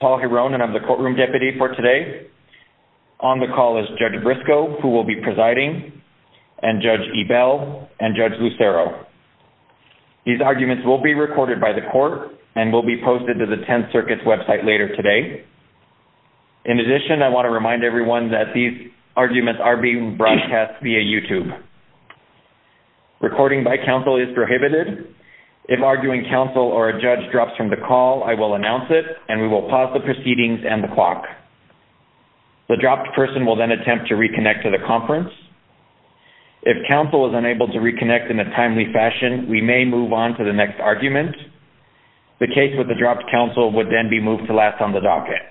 I'm the courtroom deputy for today. On the call is Judge Briscoe, who will be presiding, and Judge Ebell, and Judge Lucero. These arguments will be recorded by the court and will be posted to the Tenth Circuit's website later today. In addition, I want to remind everyone that these arguments are being broadcast via YouTube. Recording by counsel is prohibited. If arguing counsel or a judge drops from the call, I will announce it, and we will pause the proceedings and the clock. The dropped person will then attempt to reconnect to the conference. If counsel is unable to reconnect in a timely fashion, we may move on to the next argument. The case with the dropped counsel would then be moved to last on the docket.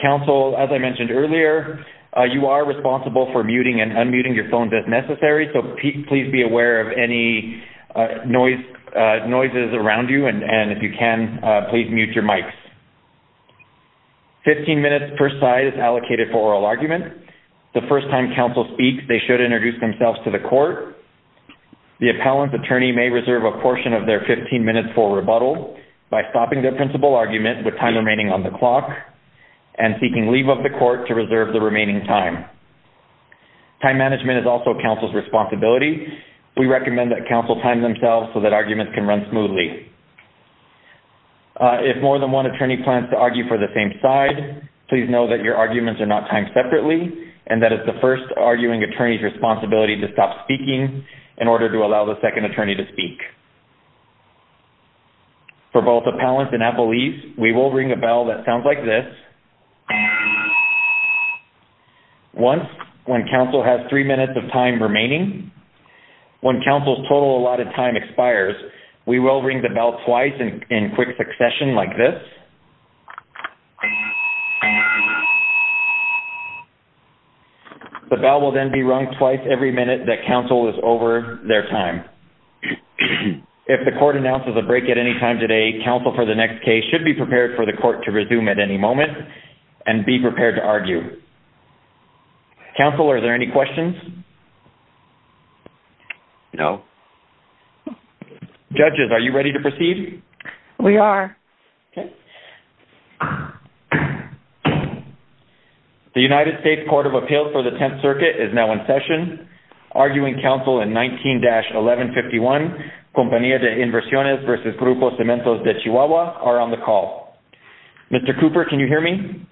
Counsel as I mentioned earlier, you are responsible for muting and unmuting your phone if necessary, so please be aware of any noises around you, and if you can, please mute your mics. Fifteen minutes per side is allocated for oral argument. The first time counsel speaks, they should introduce themselves to the court. The appellant's attorney may reserve a portion of their fifteen minutes for rebuttal by stopping their principal argument with time remaining on the clock and seeking leave of the court to reserve the remaining time. Time management is also counsel's responsibility. We recommend that counsel time themselves so that arguments can run smoothly. If more than one attorney plans to argue for the same side, please know that your arguments are not timed separately, and that it's the first arguing attorney's responsibility to stop speaking in order to allow the second attorney to speak. For both appellants and appellees, we will ring a bell that sounds like this. Once, when counsel has three minutes of time remaining, when counsel's total allotted time expires, we will ring the bell twice in quick succession like this. The bell will then be rung twice every minute that counsel is over their time. If the court announces a break at any time today, counsel for the next case should be prepared for the court to resume at any moment and be prepared to argue. Counsel, are there any questions? No. Judges, are you ready to proceed? We are. The United States Court of Appeals for the Tenth Circuit is now in session. Arguing counsel in 19-1151, Compañía de Inversiones versus Grupo Cementos de Chihuahua, are on the call. Mr. Cooper, can you hear me?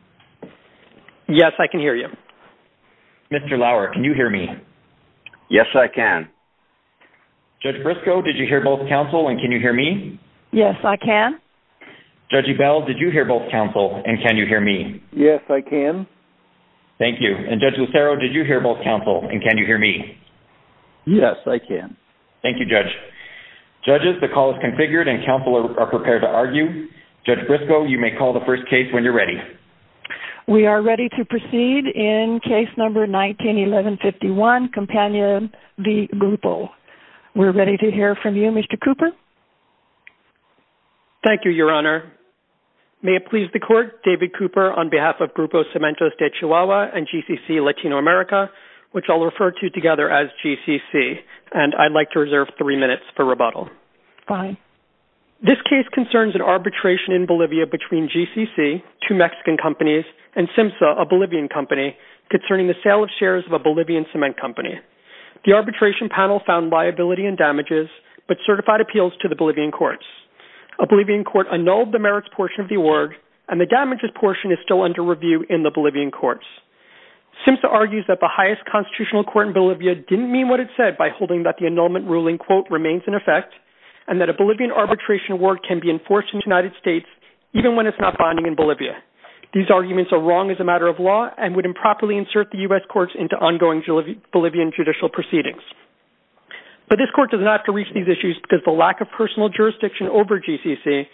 Yes, I can hear you. Mr. Lauer, can you hear me? Yes, I can. Judge Brisco, did you hear both counsel and can you hear me? Yes, I can. Judge Ebell, did you hear both counsel and can you hear me? Yes, I can. Thank you. And Judge Lucero, did you hear both counsel and can you hear me? Yes, I can. Thank you, Judge. Judges, the call is configured and counsel are prepared to argue. Judge Brisco, you may call the first case when you're ready. We are ready to proceed in case number 19-1151, Companion v. Grupo. We're ready to hear from you, Mr. Cooper. Thank you, Your Honor. May it please the court, David Cooper on behalf of Grupo Cementos de Chihuahua and GCC Latino America, which I'll refer to together as GCC. And I'd like to reserve three minutes for rebuttal. Fine. This case concerns an arbitration in Bolivia between GCC, two Mexican companies, and SIMSA, a Bolivian company, concerning the sale of shares of a Bolivian cement company. The arbitration panel found liability and damages, but certified appeals to the Bolivian courts. A Bolivian court annulled the merits portion of the award and the damages portion is still under review in the Bolivian courts. SIMSA argues that the highest constitutional court in Bolivia didn't mean what it said by holding that the annulment ruling, quote, remains in effect, and that a Bolivian arbitration award can be enforced in the United States even when it's not binding in Bolivia. These arguments are wrong as a matter of law and would improperly insert the U.S. courts into ongoing Bolivian judicial proceedings. But this court does not have to reach these issues because the lack of personal jurisdiction over GCC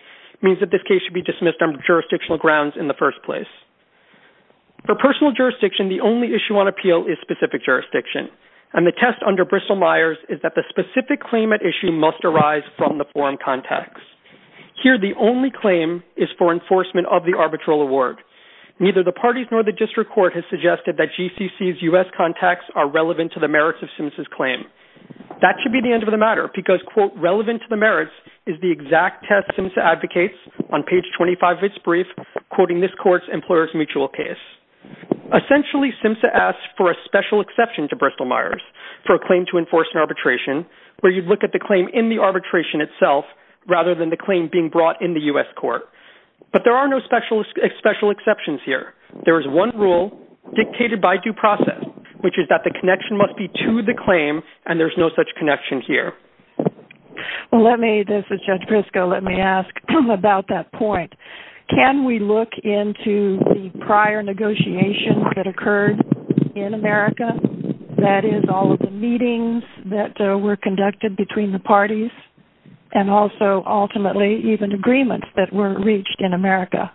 means that this case should be dismissed on jurisdictional grounds in the first place. For personal jurisdiction, the only issue on appeal is specific jurisdiction. And the test under Bristol-Myers is that the specific claim at issue must arise from the forum contacts. Here, the only claim is for enforcement of the arbitral award. Neither the parties nor the district court has suggested that GCC's U.S. contacts are relevant to the merits of SIMSA's claim. That should be the end of the matter because, quote, relevant to the merits is the exact test SIMSA advocates on page 25 of its brief, quoting this court's employer's mutual case. Essentially, SIMSA asks for a special exception to Bristol-Myers for a claim to enforce an arbitration where you'd look at the claim in the arbitration itself rather than the claim being brought in the U.S. court. But there are no special exceptions here. There is one rule dictated by due process, which is that the connection must be to the claim and there's no such connection here. Let me, this is Judge Briscoe, let me ask about that point. Can we look into the prior negotiations that occurred in America? That is, all of the meetings that were conducted between the parties and also, ultimately, even agreements that were reached in America.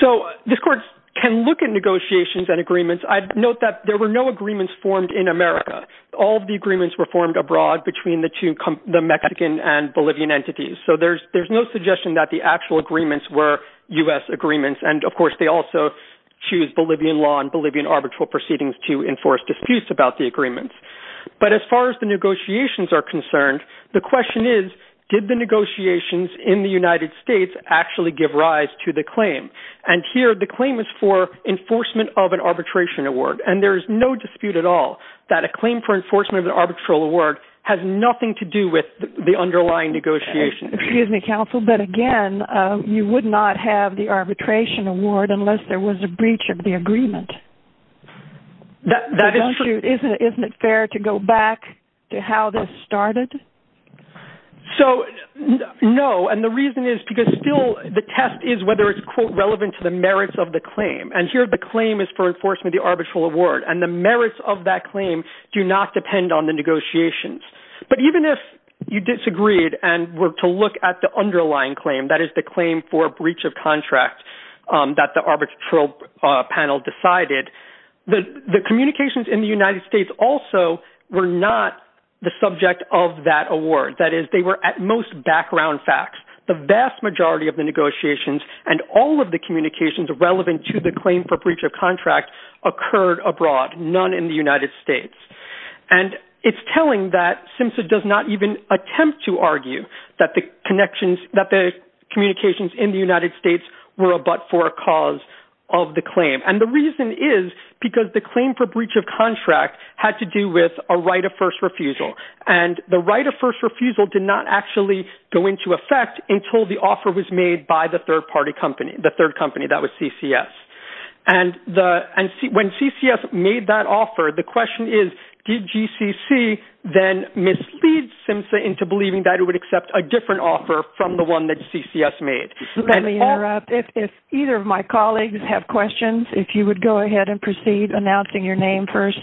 So, this court can look at negotiations and agreements. I'd note that there were no agreements formed in America. All of the agreements were formed abroad between the two, the Mexican and Bolivian entities. So, there's no suggestion that the actual agreements were U.S. agreements and, of course, they also choose Bolivian law and Bolivian arbitral proceedings to enforce disputes about the agreements. But as far as the negotiations are concerned, the question is, did the negotiations in the United States actually give rise to the claim? And here, the claim is for enforcement of an arbitration award and there is no dispute at all that a claim for enforcement of an arbitral award has nothing to do with the underlying negotiation. Excuse me, counsel, but again, you would not have the arbitration award unless there was a breach of the agreement. That is true. Isn't it fair to go back to how this started? So, no, and the reason is because still, the test is whether it's, quote, relevant to the merits of the claim. and the merits of that claim do not depend on the negotiations. But even if you disagreed and were to look at the underlying claim, that is the claim for breach of contract that the arbitral panel decided, the communications in the United States also were not the subject of that award. That is, they were at most background facts. The vast majority of the negotiations and all of the communications relevant to the claim for breach of contract occurred abroad, none in the United States. And it's telling that SIMSA does not even attempt to argue that the communications in the United States were a but for a cause of the claim. And the reason is because the claim for breach of contract had to do with a right of first refusal. And the right of first refusal did not actually go into effect until the offer was made by the third party company, the third company, that was CCS. And when CCS made that offer, the question is, did GCC then mislead SIMSA into believing that it would accept a different offer from the one that CCS made? Let me interrupt. If either of my colleagues have questions, if you would go ahead and proceed announcing your name first.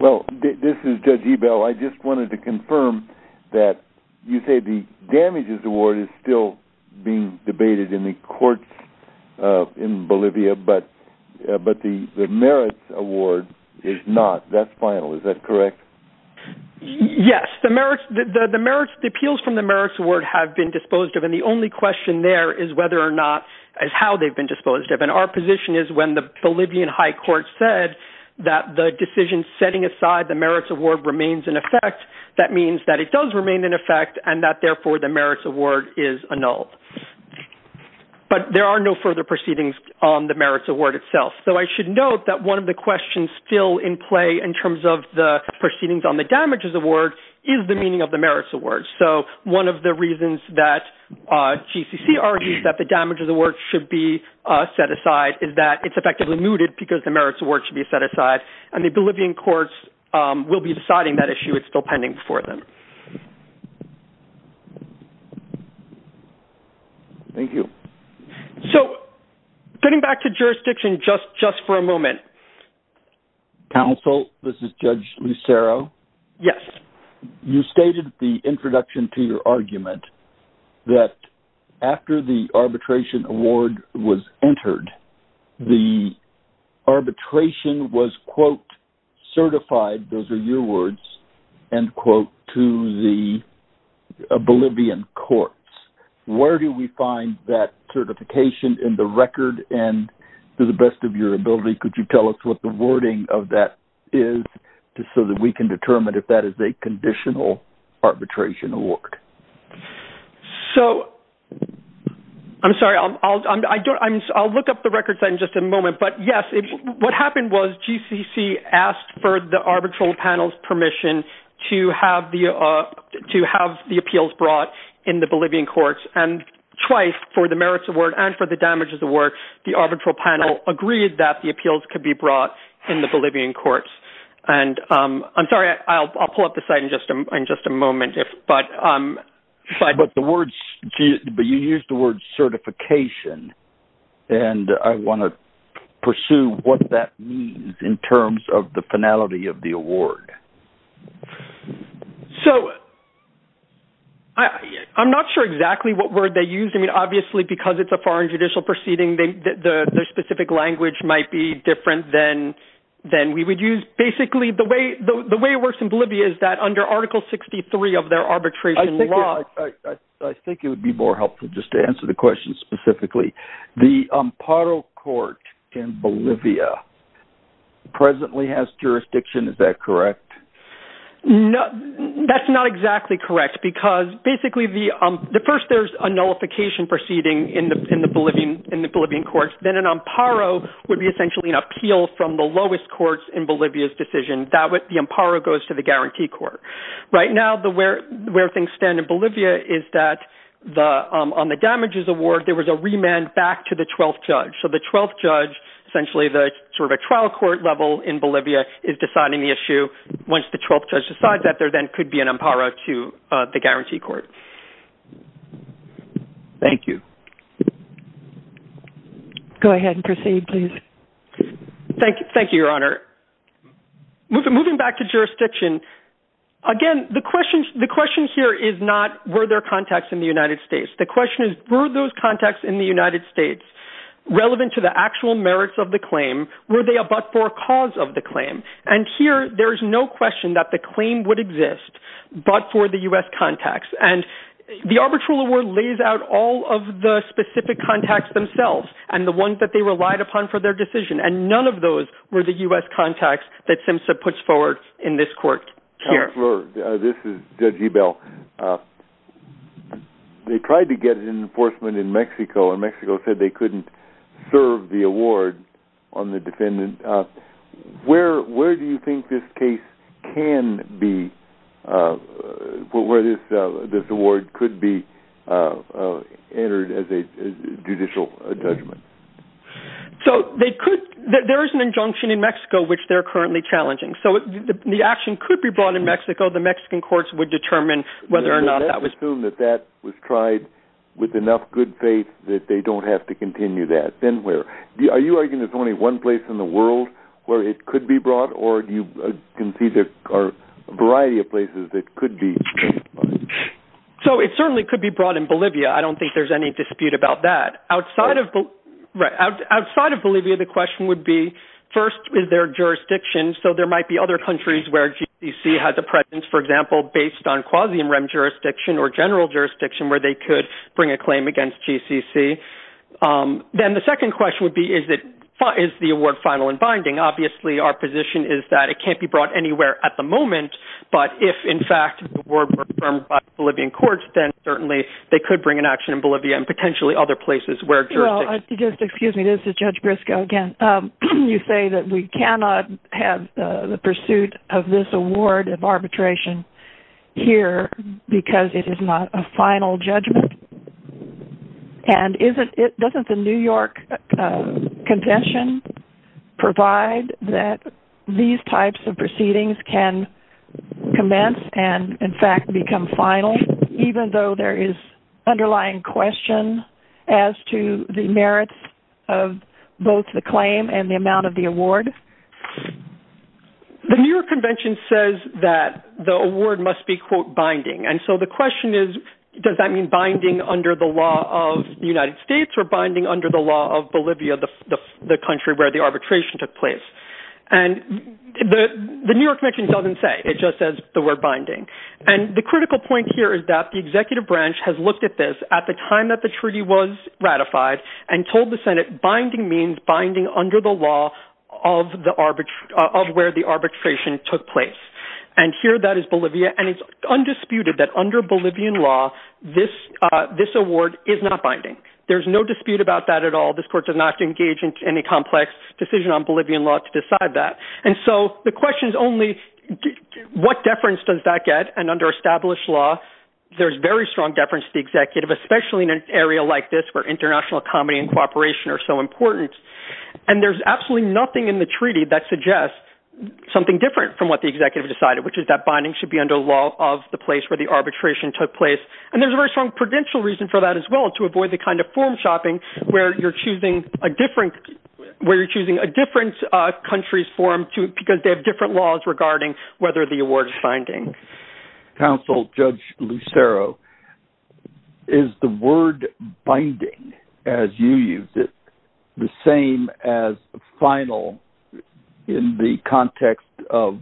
Well, this is Judge Ebell. I just wanted to confirm that you say the damages award is still being debated in the courts in Bolivia, but the merits award is not. That's final. Is that correct? Yes, the merits, the appeals from the merits award have been disposed of. And the only question there is whether or not, as how they've been disposed of. And our position is when the Bolivian High Court said that the decision setting aside the merits award remains in effect, that means that it does remain in effect and that therefore the merits award is annulled. But there are no further proceedings on the merits award itself. So I should note that one of the questions still in play in terms of the proceedings on the damages award is the meaning of the merits award. So one of the reasons that GCC argues that the damages award should be set aside is that it's effectively mooted because the merits award should be set aside. And the Bolivian courts will be deciding that issue. It's still pending for them. Thank you. So getting back to jurisdiction just for a moment. Counsel, this is Judge Lucero. Yes. You stated the introduction to your argument that after the arbitration award was entered, the arbitration was quote certified, those are your words, end quote, to the Bolivian courts. Where do we find that certification in the record and to the best of your ability, could you tell us what the wording of that is just so that we can determine if that is a conditional arbitration award? So I'm sorry, I'll look up the records in just a moment. But yes, what happened was GCC asked for the arbitral panel's permission to have the appeals brought in the Bolivian courts. And twice for the merits award and for the damages award, the arbitral panel agreed that the appeals could be brought in the Bolivian courts. And I'm sorry, I'll pull up the site in just a moment. But you used the word certification and I wanna pursue what that means in terms of the finality of the award. So I'm not sure exactly what word they used. I mean, obviously because it's a foreign judicial proceeding the specific language might be different than we would use. Basically the way it works in Bolivia is that under article 63 of their arbitration law. I think it would be more helpful just to answer the question specifically. The Amparo court in Bolivia presently has jurisdiction, is that correct? No, that's not exactly correct because basically the first there's a nullification proceeding in the Bolivian courts, then an Amparo would be essentially an appeal from the lowest courts in Bolivia's decision. That way the Amparo goes to the guarantee court. Right now where things stand in Bolivia is that on the damages award, there was a remand back to the 12th judge. So the 12th judge, essentially the sort of a trial court level in Bolivia is deciding the issue once the 12th judge decides that there then could be an Amparo to the guarantee court. Thank you. Go ahead and proceed please. Thank you, your honor. Moving back to jurisdiction. Again, the question here is not were there contacts in the United States? The question is were those contacts in the United States relevant to the actual merits of the claim? Were they a but for cause of the claim? And here there's no question that the claim would exist but for the U.S. contacts. And the arbitral award lays out all of the specific contacts themselves and the ones that they relied upon for their decision. And none of those were the U.S. contacts that SIMSA puts forward in this court here. This is Judge Ebel. Judge Ebel, they tried to get an enforcement in Mexico and Mexico said they couldn't serve the award on the defendant. Where do you think this case can be, where this award could be entered as a judicial judgment? So they could, there is an injunction in Mexico which they're currently challenging. So the action could be brought in Mexico. The Mexican courts would determine whether or not that was- Let's assume that that was tried with enough good faith that they don't have to continue that. Then where, are you arguing there's only one place in the world where it could be brought or do you concede there are a variety of places that could be- So it certainly could be brought in Bolivia. I don't think there's any dispute about that. Outside of Bolivia, the question would be first with their jurisdictions. So there might be other countries where GCC has a presence, for example, based on quasi-MREM jurisdiction or general jurisdiction where they could bring a claim against GCC. Then the second question would be, is the award final and binding? Obviously our position is that it can't be brought anywhere at the moment, but if in fact the award were confirmed by Bolivian courts, then certainly they could bring an action in Bolivia and potentially other places where jurisdictions- Well, just excuse me, this is Judge Briscoe again. You say that we cannot have the pursuit of this award of arbitration here because it is not a final judgment. And doesn't the New York convention provide that these types of proceedings can commence and in fact become final, even though there is underlying question as to the merits of both the claim and the amount of the award? The New York convention says that the award must be quote, binding. And so the question is, does that mean binding under the law of the United States or binding under the law of Bolivia, the country where the arbitration took place? And the New York convention doesn't say, it just says the word binding. And the critical point here is that the executive branch has looked at this at the time that the treaty was ratified and told the Senate binding means binding under the law of where the arbitration took place. And here that is Bolivia and it's undisputed that under Bolivian law, this award is not binding. There's no dispute about that at all. This court does not engage in any complex decision on Bolivian law to decide that. And so the question is only what deference does that get and under established law, there's very strong deference to the executive, especially in an area like this where international comedy and cooperation are so important. And there's absolutely nothing in the treaty that suggests something different from what the executive decided, which is that binding should be under the law of the place where the arbitration took place. And there's a very strong prudential reason for that as well to avoid the kind of form shopping where you're choosing a different country's form because they have different laws regarding whether the award is binding. Council Judge Lucero, is the word binding as you use it, the same as final in the context of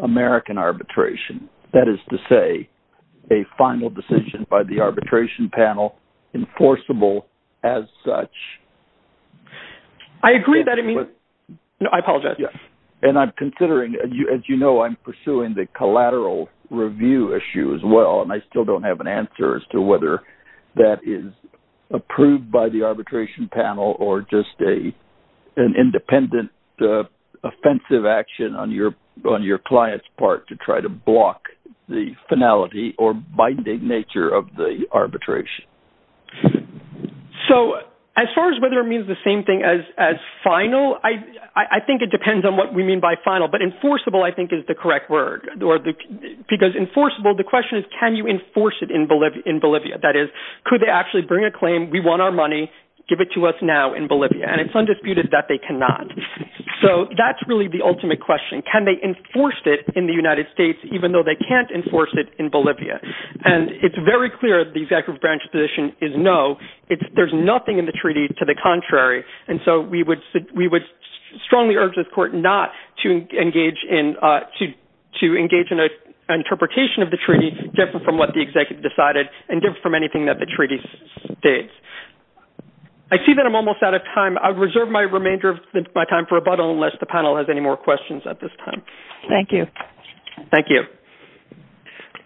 American arbitration, that is to say a final decision by the arbitration panel enforceable as such? I agree that it means, no, I apologize. And I'm considering, as you know, I'm pursuing the collateral review issue as well. And I still don't have an answer as to whether that is approved by the arbitration panel or just an independent offensive action on your client's part to try to block the finality or binding nature of the arbitration. So as far as whether it means the same thing as final, I think it depends on what we mean by final, but enforceable, I think is the correct word because enforceable, the question is, can you enforce it in Bolivia? That is, could they actually bring a claim? We want our money, give it to us now in Bolivia. And it's undisputed that they cannot. So that's really the ultimate question. Can they enforce it in the United States, even though they can't enforce it in Bolivia? And it's very clear the executive branch position is no, there's nothing in the treaty to the contrary. And so we would strongly urge this court not to engage in an interpretation of the treaty different from what the executive decided and different from anything that the treaty states. I see that I'm almost out of time. I'll reserve my remainder of my time for rebuttal unless the panel has any more questions at this time. Thank you. Thank you.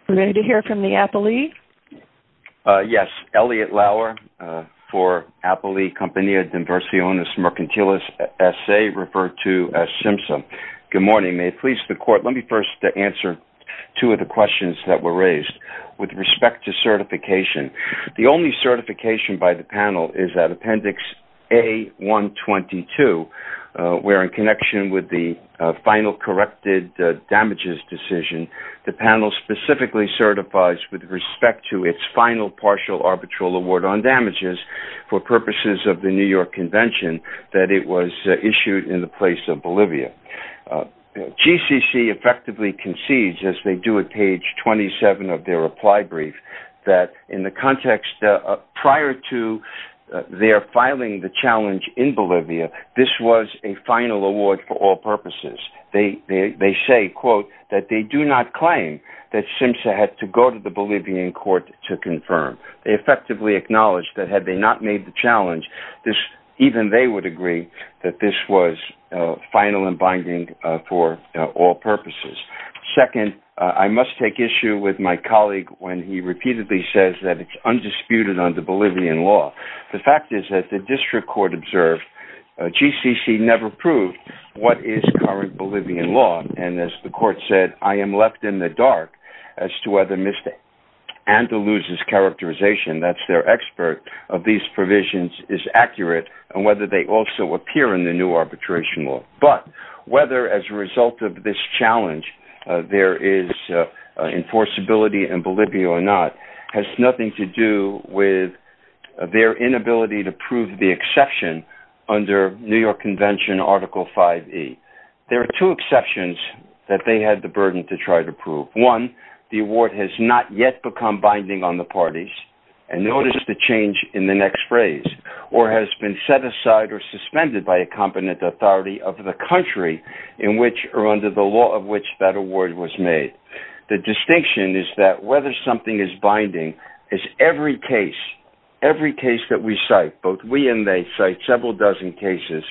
We're ready to hear from the Apolli. Yes, Elliot Lauer for Apolli Compañía in Versiones Mercantiles S.A., referred to as SIMSA. Good morning, may it please the court, let me first answer two of the questions that were raised with respect to certification. The only certification by the panel is that Appendix A-122 where in connection with the final corrected damages decision, the panel specifically certifies with respect to its final partial arbitral award on damages for purposes of the New York Convention that it was issued in the place of Bolivia. GCC effectively concedes as they do at page 27 of their reply brief that in the context prior to their filing the challenge in Bolivia, this was a final award for all purposes. They say, quote, that they do not claim that SIMSA had to go to the Bolivian court to confirm. They effectively acknowledge that had they not made the challenge, even they would agree that this was final and binding for all purposes. Second, I must take issue with my colleague when he repeatedly says that it's undisputed under Bolivian law. The fact is that the district court observed GCC never proved what is current Bolivian law. And as the court said, I am left in the dark as to whether Ms. Andaluza's characterization, that's their expert, of these provisions is accurate and whether they also appear in the new arbitration law. But whether as a result of this challenge, there is enforceability in Bolivia or not has nothing to do with their inability to prove the exception under New York Convention Article 5E. There are two exceptions that they had the burden to try to prove. One, the award has not yet become binding on the parties and notice the change in the next phrase, or has been set aside or suspended by a competent authority of the country in which or under the law of which that award was made. The distinction is that whether something is binding is every case, every case that we cite, both we and they cite several dozen cases,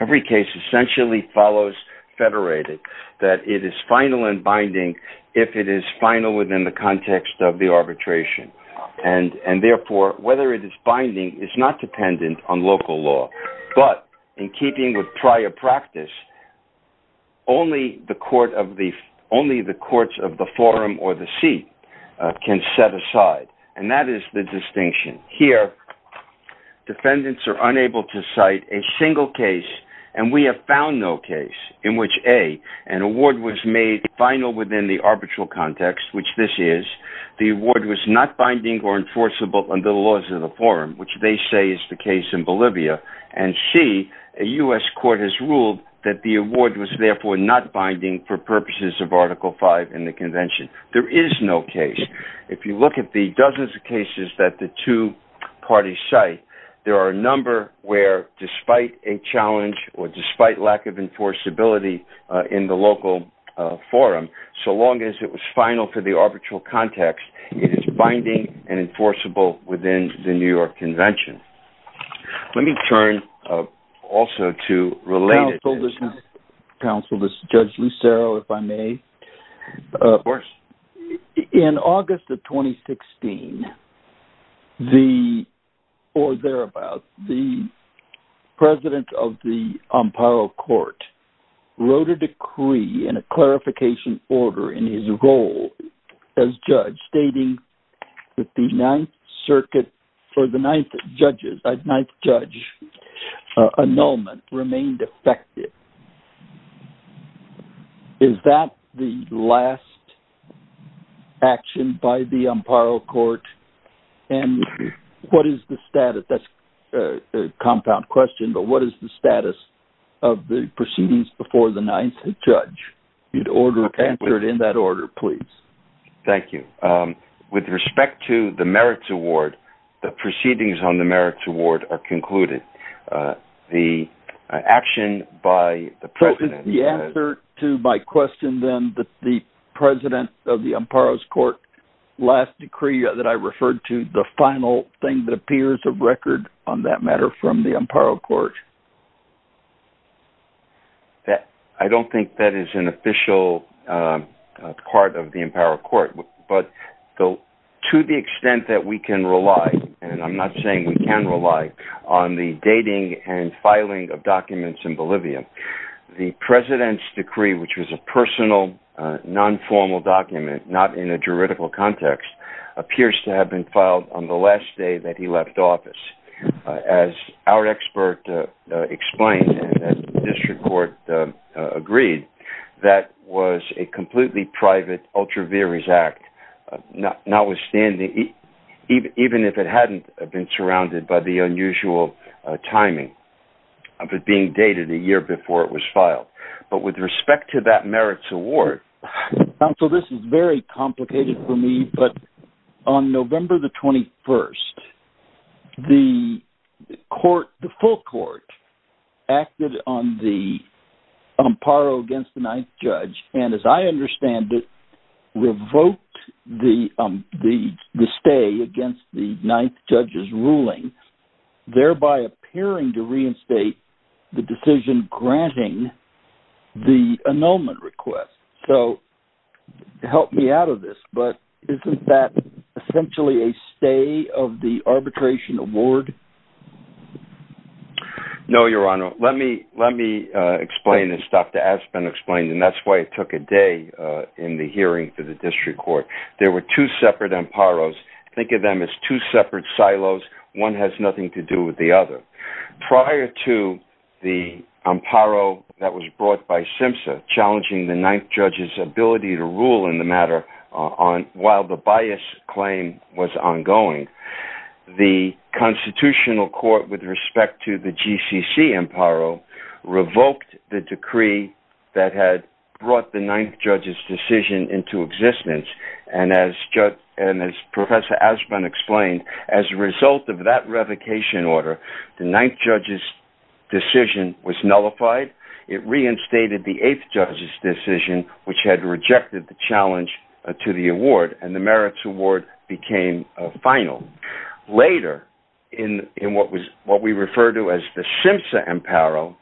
every case essentially follows federated, that it is final and binding if it is final within the context of the arbitration. And therefore, whether it is binding is not dependent on local law, but in keeping with prior practice, only the courts of the forum or the seat can set aside. And that is the distinction. Here, defendants are unable to cite a single case and we have found no case in which A, an award was made final within the arbitral context, which this is, the award was not binding or enforceable under the laws of the forum, which they say is the case in Bolivia. And C, a US court has ruled that the award was therefore not binding for purposes of Article 5 in the convention. There is no case. If you look at the dozens of cases that the two parties cite there are a number where, despite a challenge or despite lack of enforceability in the local forum, so long as it was final for the arbitral context, it is binding and enforceable within the New York Convention. Let me turn also to related- Counsel, this is Judge Lucero, if I may. Of course. In August of 2016, the, or thereabouts, the president of the Amparo Court wrote a decree in a clarification order in his role as judge stating that the Ninth Circuit, for the ninth judges, a ninth judge annulment remained effective. Is that the last action by the Amparo Court and what is the status? That's a compound question, but what is the status of the proceedings before the ninth judge? You'd answer it in that order, please. Thank you. With respect to the Merits Award, the proceedings on the Merits Award are concluded. The action by the president- So is the answer to my question then that the president of the Amparo's Court last decree that I referred to, the final thing that appears of record on that matter from the Amparo Court? I don't think that is an official part of the Amparo Court, but to the extent that we can rely, and I'm not saying we can rely, on the dating and filing of documents in Bolivia, the president's decree, which was a personal, non-formal document, not in a juridical context, appears to have been filed on the last day that he left office. As our expert explained, and the district court agreed, that was a completely private, ultra vires act, notwithstanding, even if it hadn't been surrounded by the unusual timing of it being dated a year before it was filed. But with respect to that Merits Award- Counsel, this is very complicated for me, but on November the 21st, the full court acted on the Amparo against the ninth judge, and as I understand it, revoked the stay against the ninth judge's ruling, thereby appearing to reinstate the decision granting the annulment request. So help me out of this, but isn't that essentially a stay of the arbitration award? No, your honor. Let me explain this. Dr. Aspen explained, and that's why it took a day in the hearing for the district court. There were two separate Amparos. Think of them as two separate silos. One has nothing to do with the other. Prior to the Amparo that was brought by SIMSA, challenging the ninth judge's ability to rule in the matter while the bias claim was ongoing, the constitutional court with respect to the GCC Amparo revoked the decree that had brought the ninth judge's decision into existence. And as Professor Aspen explained, as a result of that revocation order, the ninth judge's decision was nullified. It reinstated the eighth judge's decision, which had rejected the challenge to the award and the merits award became final. Later, in what we refer to as the SIMSA Amparo,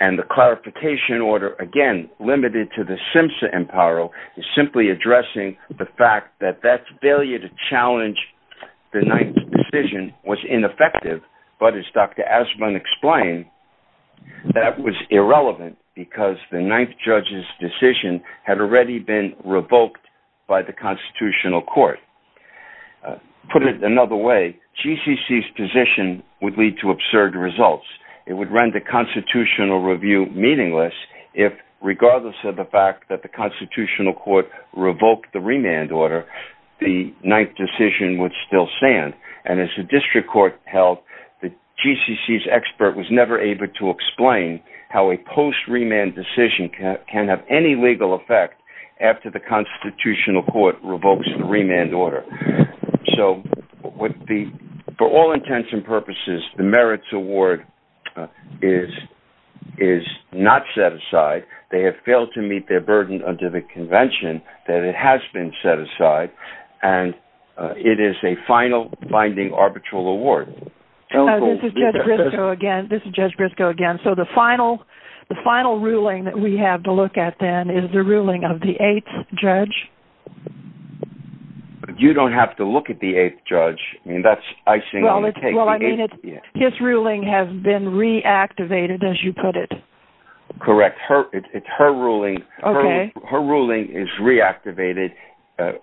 and the clarification order, again, limited to the SIMSA Amparo, is simply addressing the fact that that failure to challenge the ninth decision was ineffective, but as Dr. Aspen explained, that was irrelevant because the ninth judge's decision had already been revoked by the constitutional court. Put it another way, GCC's position would lead to absurd results. It would run the constitutional review meaningless if regardless of the fact that the constitutional court revoked the remand order, the ninth decision would still stand. And as the district court held, the GCC's expert was never able to explain how a post-remand decision can have any legal effect after the constitutional court revokes the remand order. So for all intents and purposes, the merits award is not set aside. They have failed to meet their burden under the convention that it has been set aside and it is a final, binding, arbitral award. So- This is Judge Briscoe again. This is Judge Briscoe again. So the final ruling that we have to look at then is the ruling of the eighth judge. You don't have to look at the eighth judge. I mean, that's icing on the cake. Well, I mean, his ruling has been reactivated, as you put it. Correct. It's her ruling. Okay.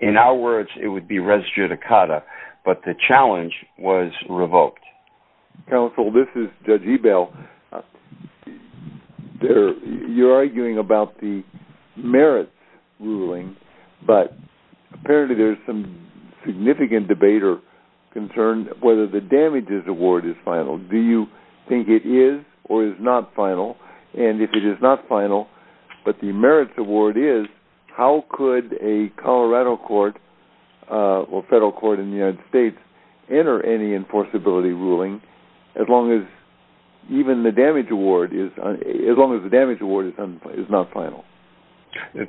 In our words, it would be res judicata, but the challenge was revoked. Counsel, this is Judge Ebel. You're arguing about the merits ruling, but apparently there's some significant debate or concern whether the damages award is final. Do you think it is or is not final? And if it is not final, but the merits award is, how could a Colorado court, or federal court in the United States, enter any enforceability ruling as long as even the damage award is, as long as the damage award is not final?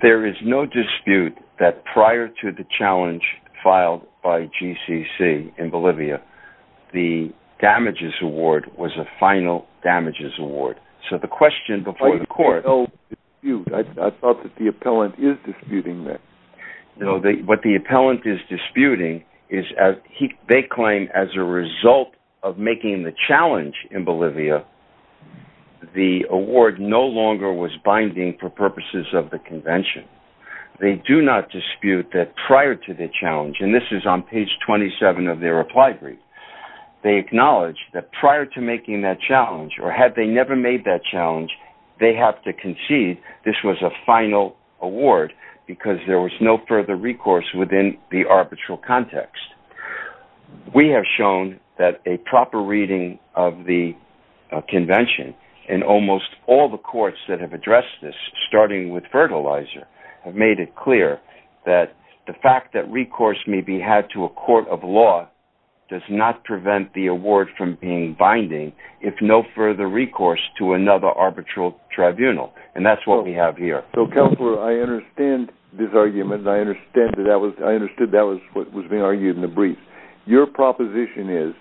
There is no dispute that prior to the challenge filed by GCC in Bolivia, the damages award was a final damages award. So the question before the court- What is disputing then? What the appellant is disputing is, they claim as a result of making the challenge in Bolivia, the award no longer was binding for purposes of the convention. They do not dispute that prior to the challenge, and this is on page 27 of their reply brief, they acknowledge that prior to making that challenge, or had they never made that challenge, they have to concede this was a final award because there was no further recourse within the arbitral context. We have shown that a proper reading of the convention in almost all the courts that have addressed this, starting with Fertilizer, have made it clear that the fact that recourse may be had to a court of law does not prevent the award from being binding if no further recourse to another arbitral tribunal. And that's what we have here. So Counselor, I understand this argument. I understand that that was, I understood that was what was being argued in the brief. Your proposition is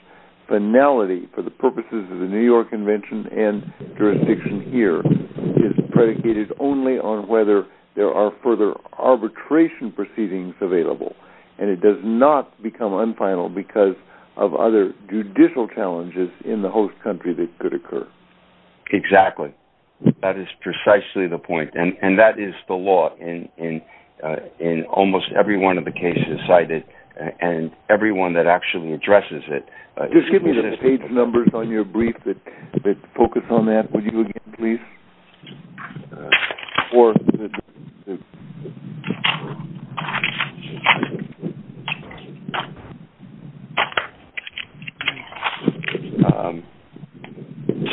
finality for the purposes of the New York Convention and jurisdiction here is predicated only on whether there are further arbitration proceedings available. And it does not become unfinal because of other judicial challenges in the host country that could occur. Exactly. That is precisely the point. And that is the law in almost every one of the cases cited and every one that actually addresses it. Just give me the page numbers on your brief that focus on that, would you again, please? Or... Okay.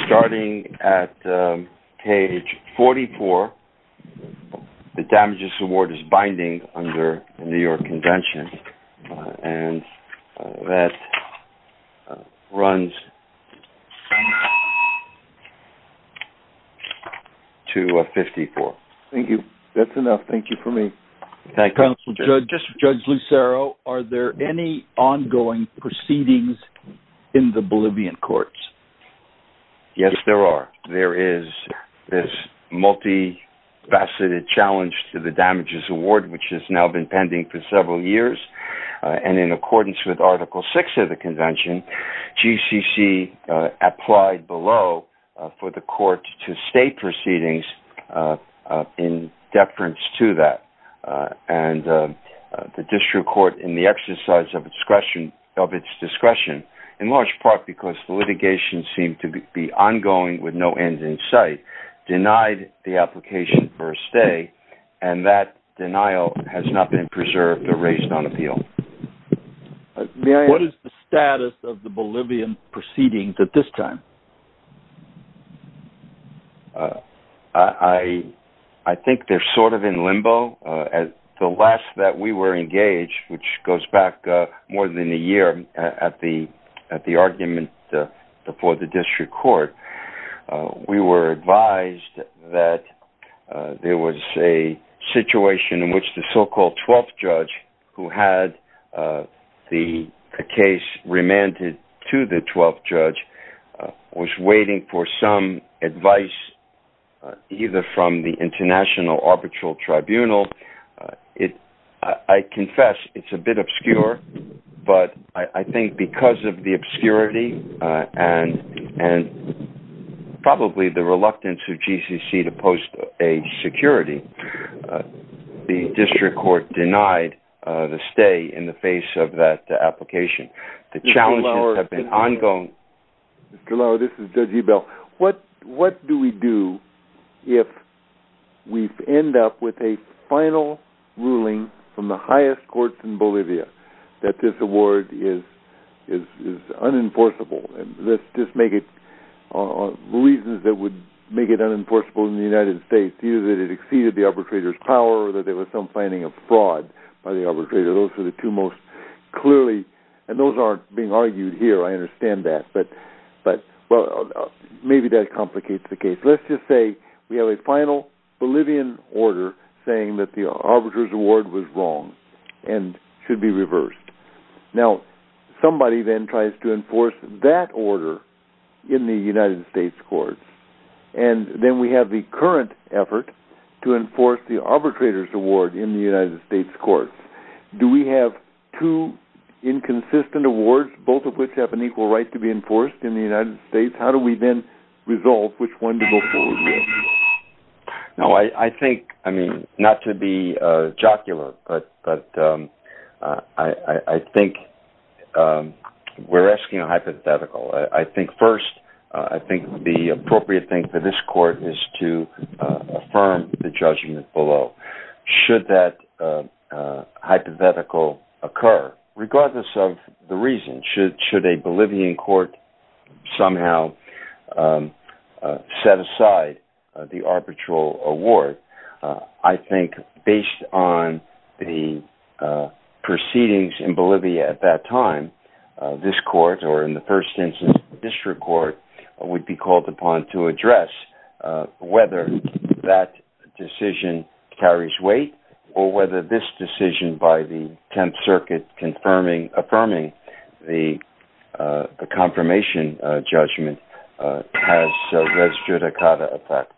Starting at page 44, the damages award is binding under the New York Convention. And that runs to 54. Thank you. That's enough, thank you for me. Thank you. Counsel Judge, Judge Lucero, are there any ongoing proceedings in the Bolivian courts? Yes, there are. There is this multifaceted challenge to the damages award, which has now been pending for several years. And in accordance with article six of the convention, GCC applied below for the court to state proceedings in deference to that. And the district court in the exercise of discretion, of its discretion, in large part, because the litigation seemed to be ongoing with no end in sight, denied the application for a stay. And that denial has not been preserved or raised on appeal. May I ask- What is the status of the Bolivian proceedings at this time? I think they're sort of in limbo. At the last that we were engaged, which goes back more than a year at the argument for the district court, we were advised that there was a situation in which the so-called 12th judge who had the case remanded to the 12th judge was waiting for some advice, either from the International Arbitral Tribunal. I confess it's a bit obscure, but I think because of the obscurity and probably the reluctance of GCC to post a security, the district court denied the stay in the face of that application. The challenges have been ongoing. Mr. Lauer, this is Judge Ebell. What do we do if we end up with a final ruling from the highest courts in Bolivia that this award is unenforceable? And let's just make it, the reasons that would make it unenforceable in the United States, either that it exceeded the arbitrator's power or that there was some planning of fraud by the arbitrator, those are the two most clearly, and those aren't being argued here. I understand that, but maybe that complicates the case. Let's just say we have a final Bolivian order saying that the arbitrator's award was wrong and should be reversed. Now, somebody then tries to enforce that order in the United States courts, and then we have the current effort to enforce the arbitrator's award in the United States courts. Do we have two inconsistent awards, both of which have an equal right to be enforced in the United States? How do we then resolve which one to go forward with? No, I think, I mean, not to be jocular, but I think we're asking a hypothetical. I think first, I think the appropriate thing for this court is to affirm the judgment below. Should that hypothetical occur, regardless of the reason, should a Bolivian court somehow set aside the arbitral award, I think based on the proceedings in Bolivia at that time, this court, or in the first instance, the district court, would be called upon to address whether that decision carries weight or whether this decision by the 10th Circuit affirming the confirmation judgment has res judicata effect.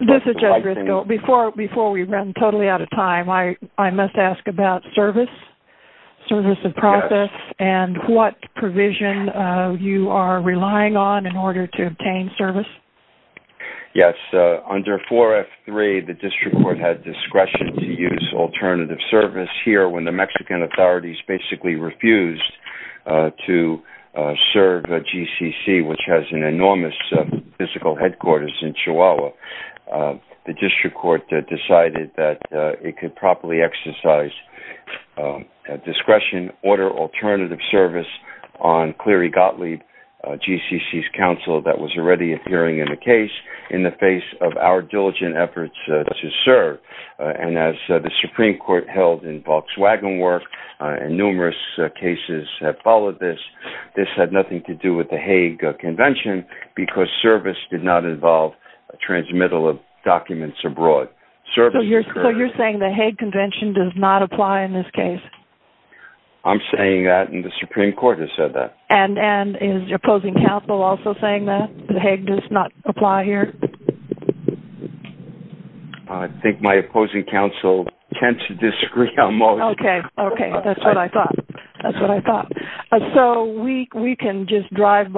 This is Judge Briscoe. Before we run totally out of time, I must ask about service, service of process, and what provision you are relying on in order to obtain service. Yes, under 4F3, the district court had discretion to use alternative service. Here, when the Mexican authorities basically refused to serve GCC, which has an enormous physical headquarters in Chihuahua, the district court decided that it could properly exercise discretion, order alternative service on Cleary Gottlieb, GCC's counsel that was already appearing in the case in the face of our diligent efforts to serve. And as the Supreme Court held in Volkswagen work, and numerous cases have followed this, this had nothing to do with the Hague Convention because service did not involve a transmittal of documents abroad. Service- So you're saying the Hague Convention does not apply in this case? I'm saying that, and the Supreme Court has said that. And is your opposing counsel also saying that the Hague does not apply here? I think my opposing counsel tends to disagree almost. Okay, okay, that's what I thought. That's what I thought. So we can just drive by.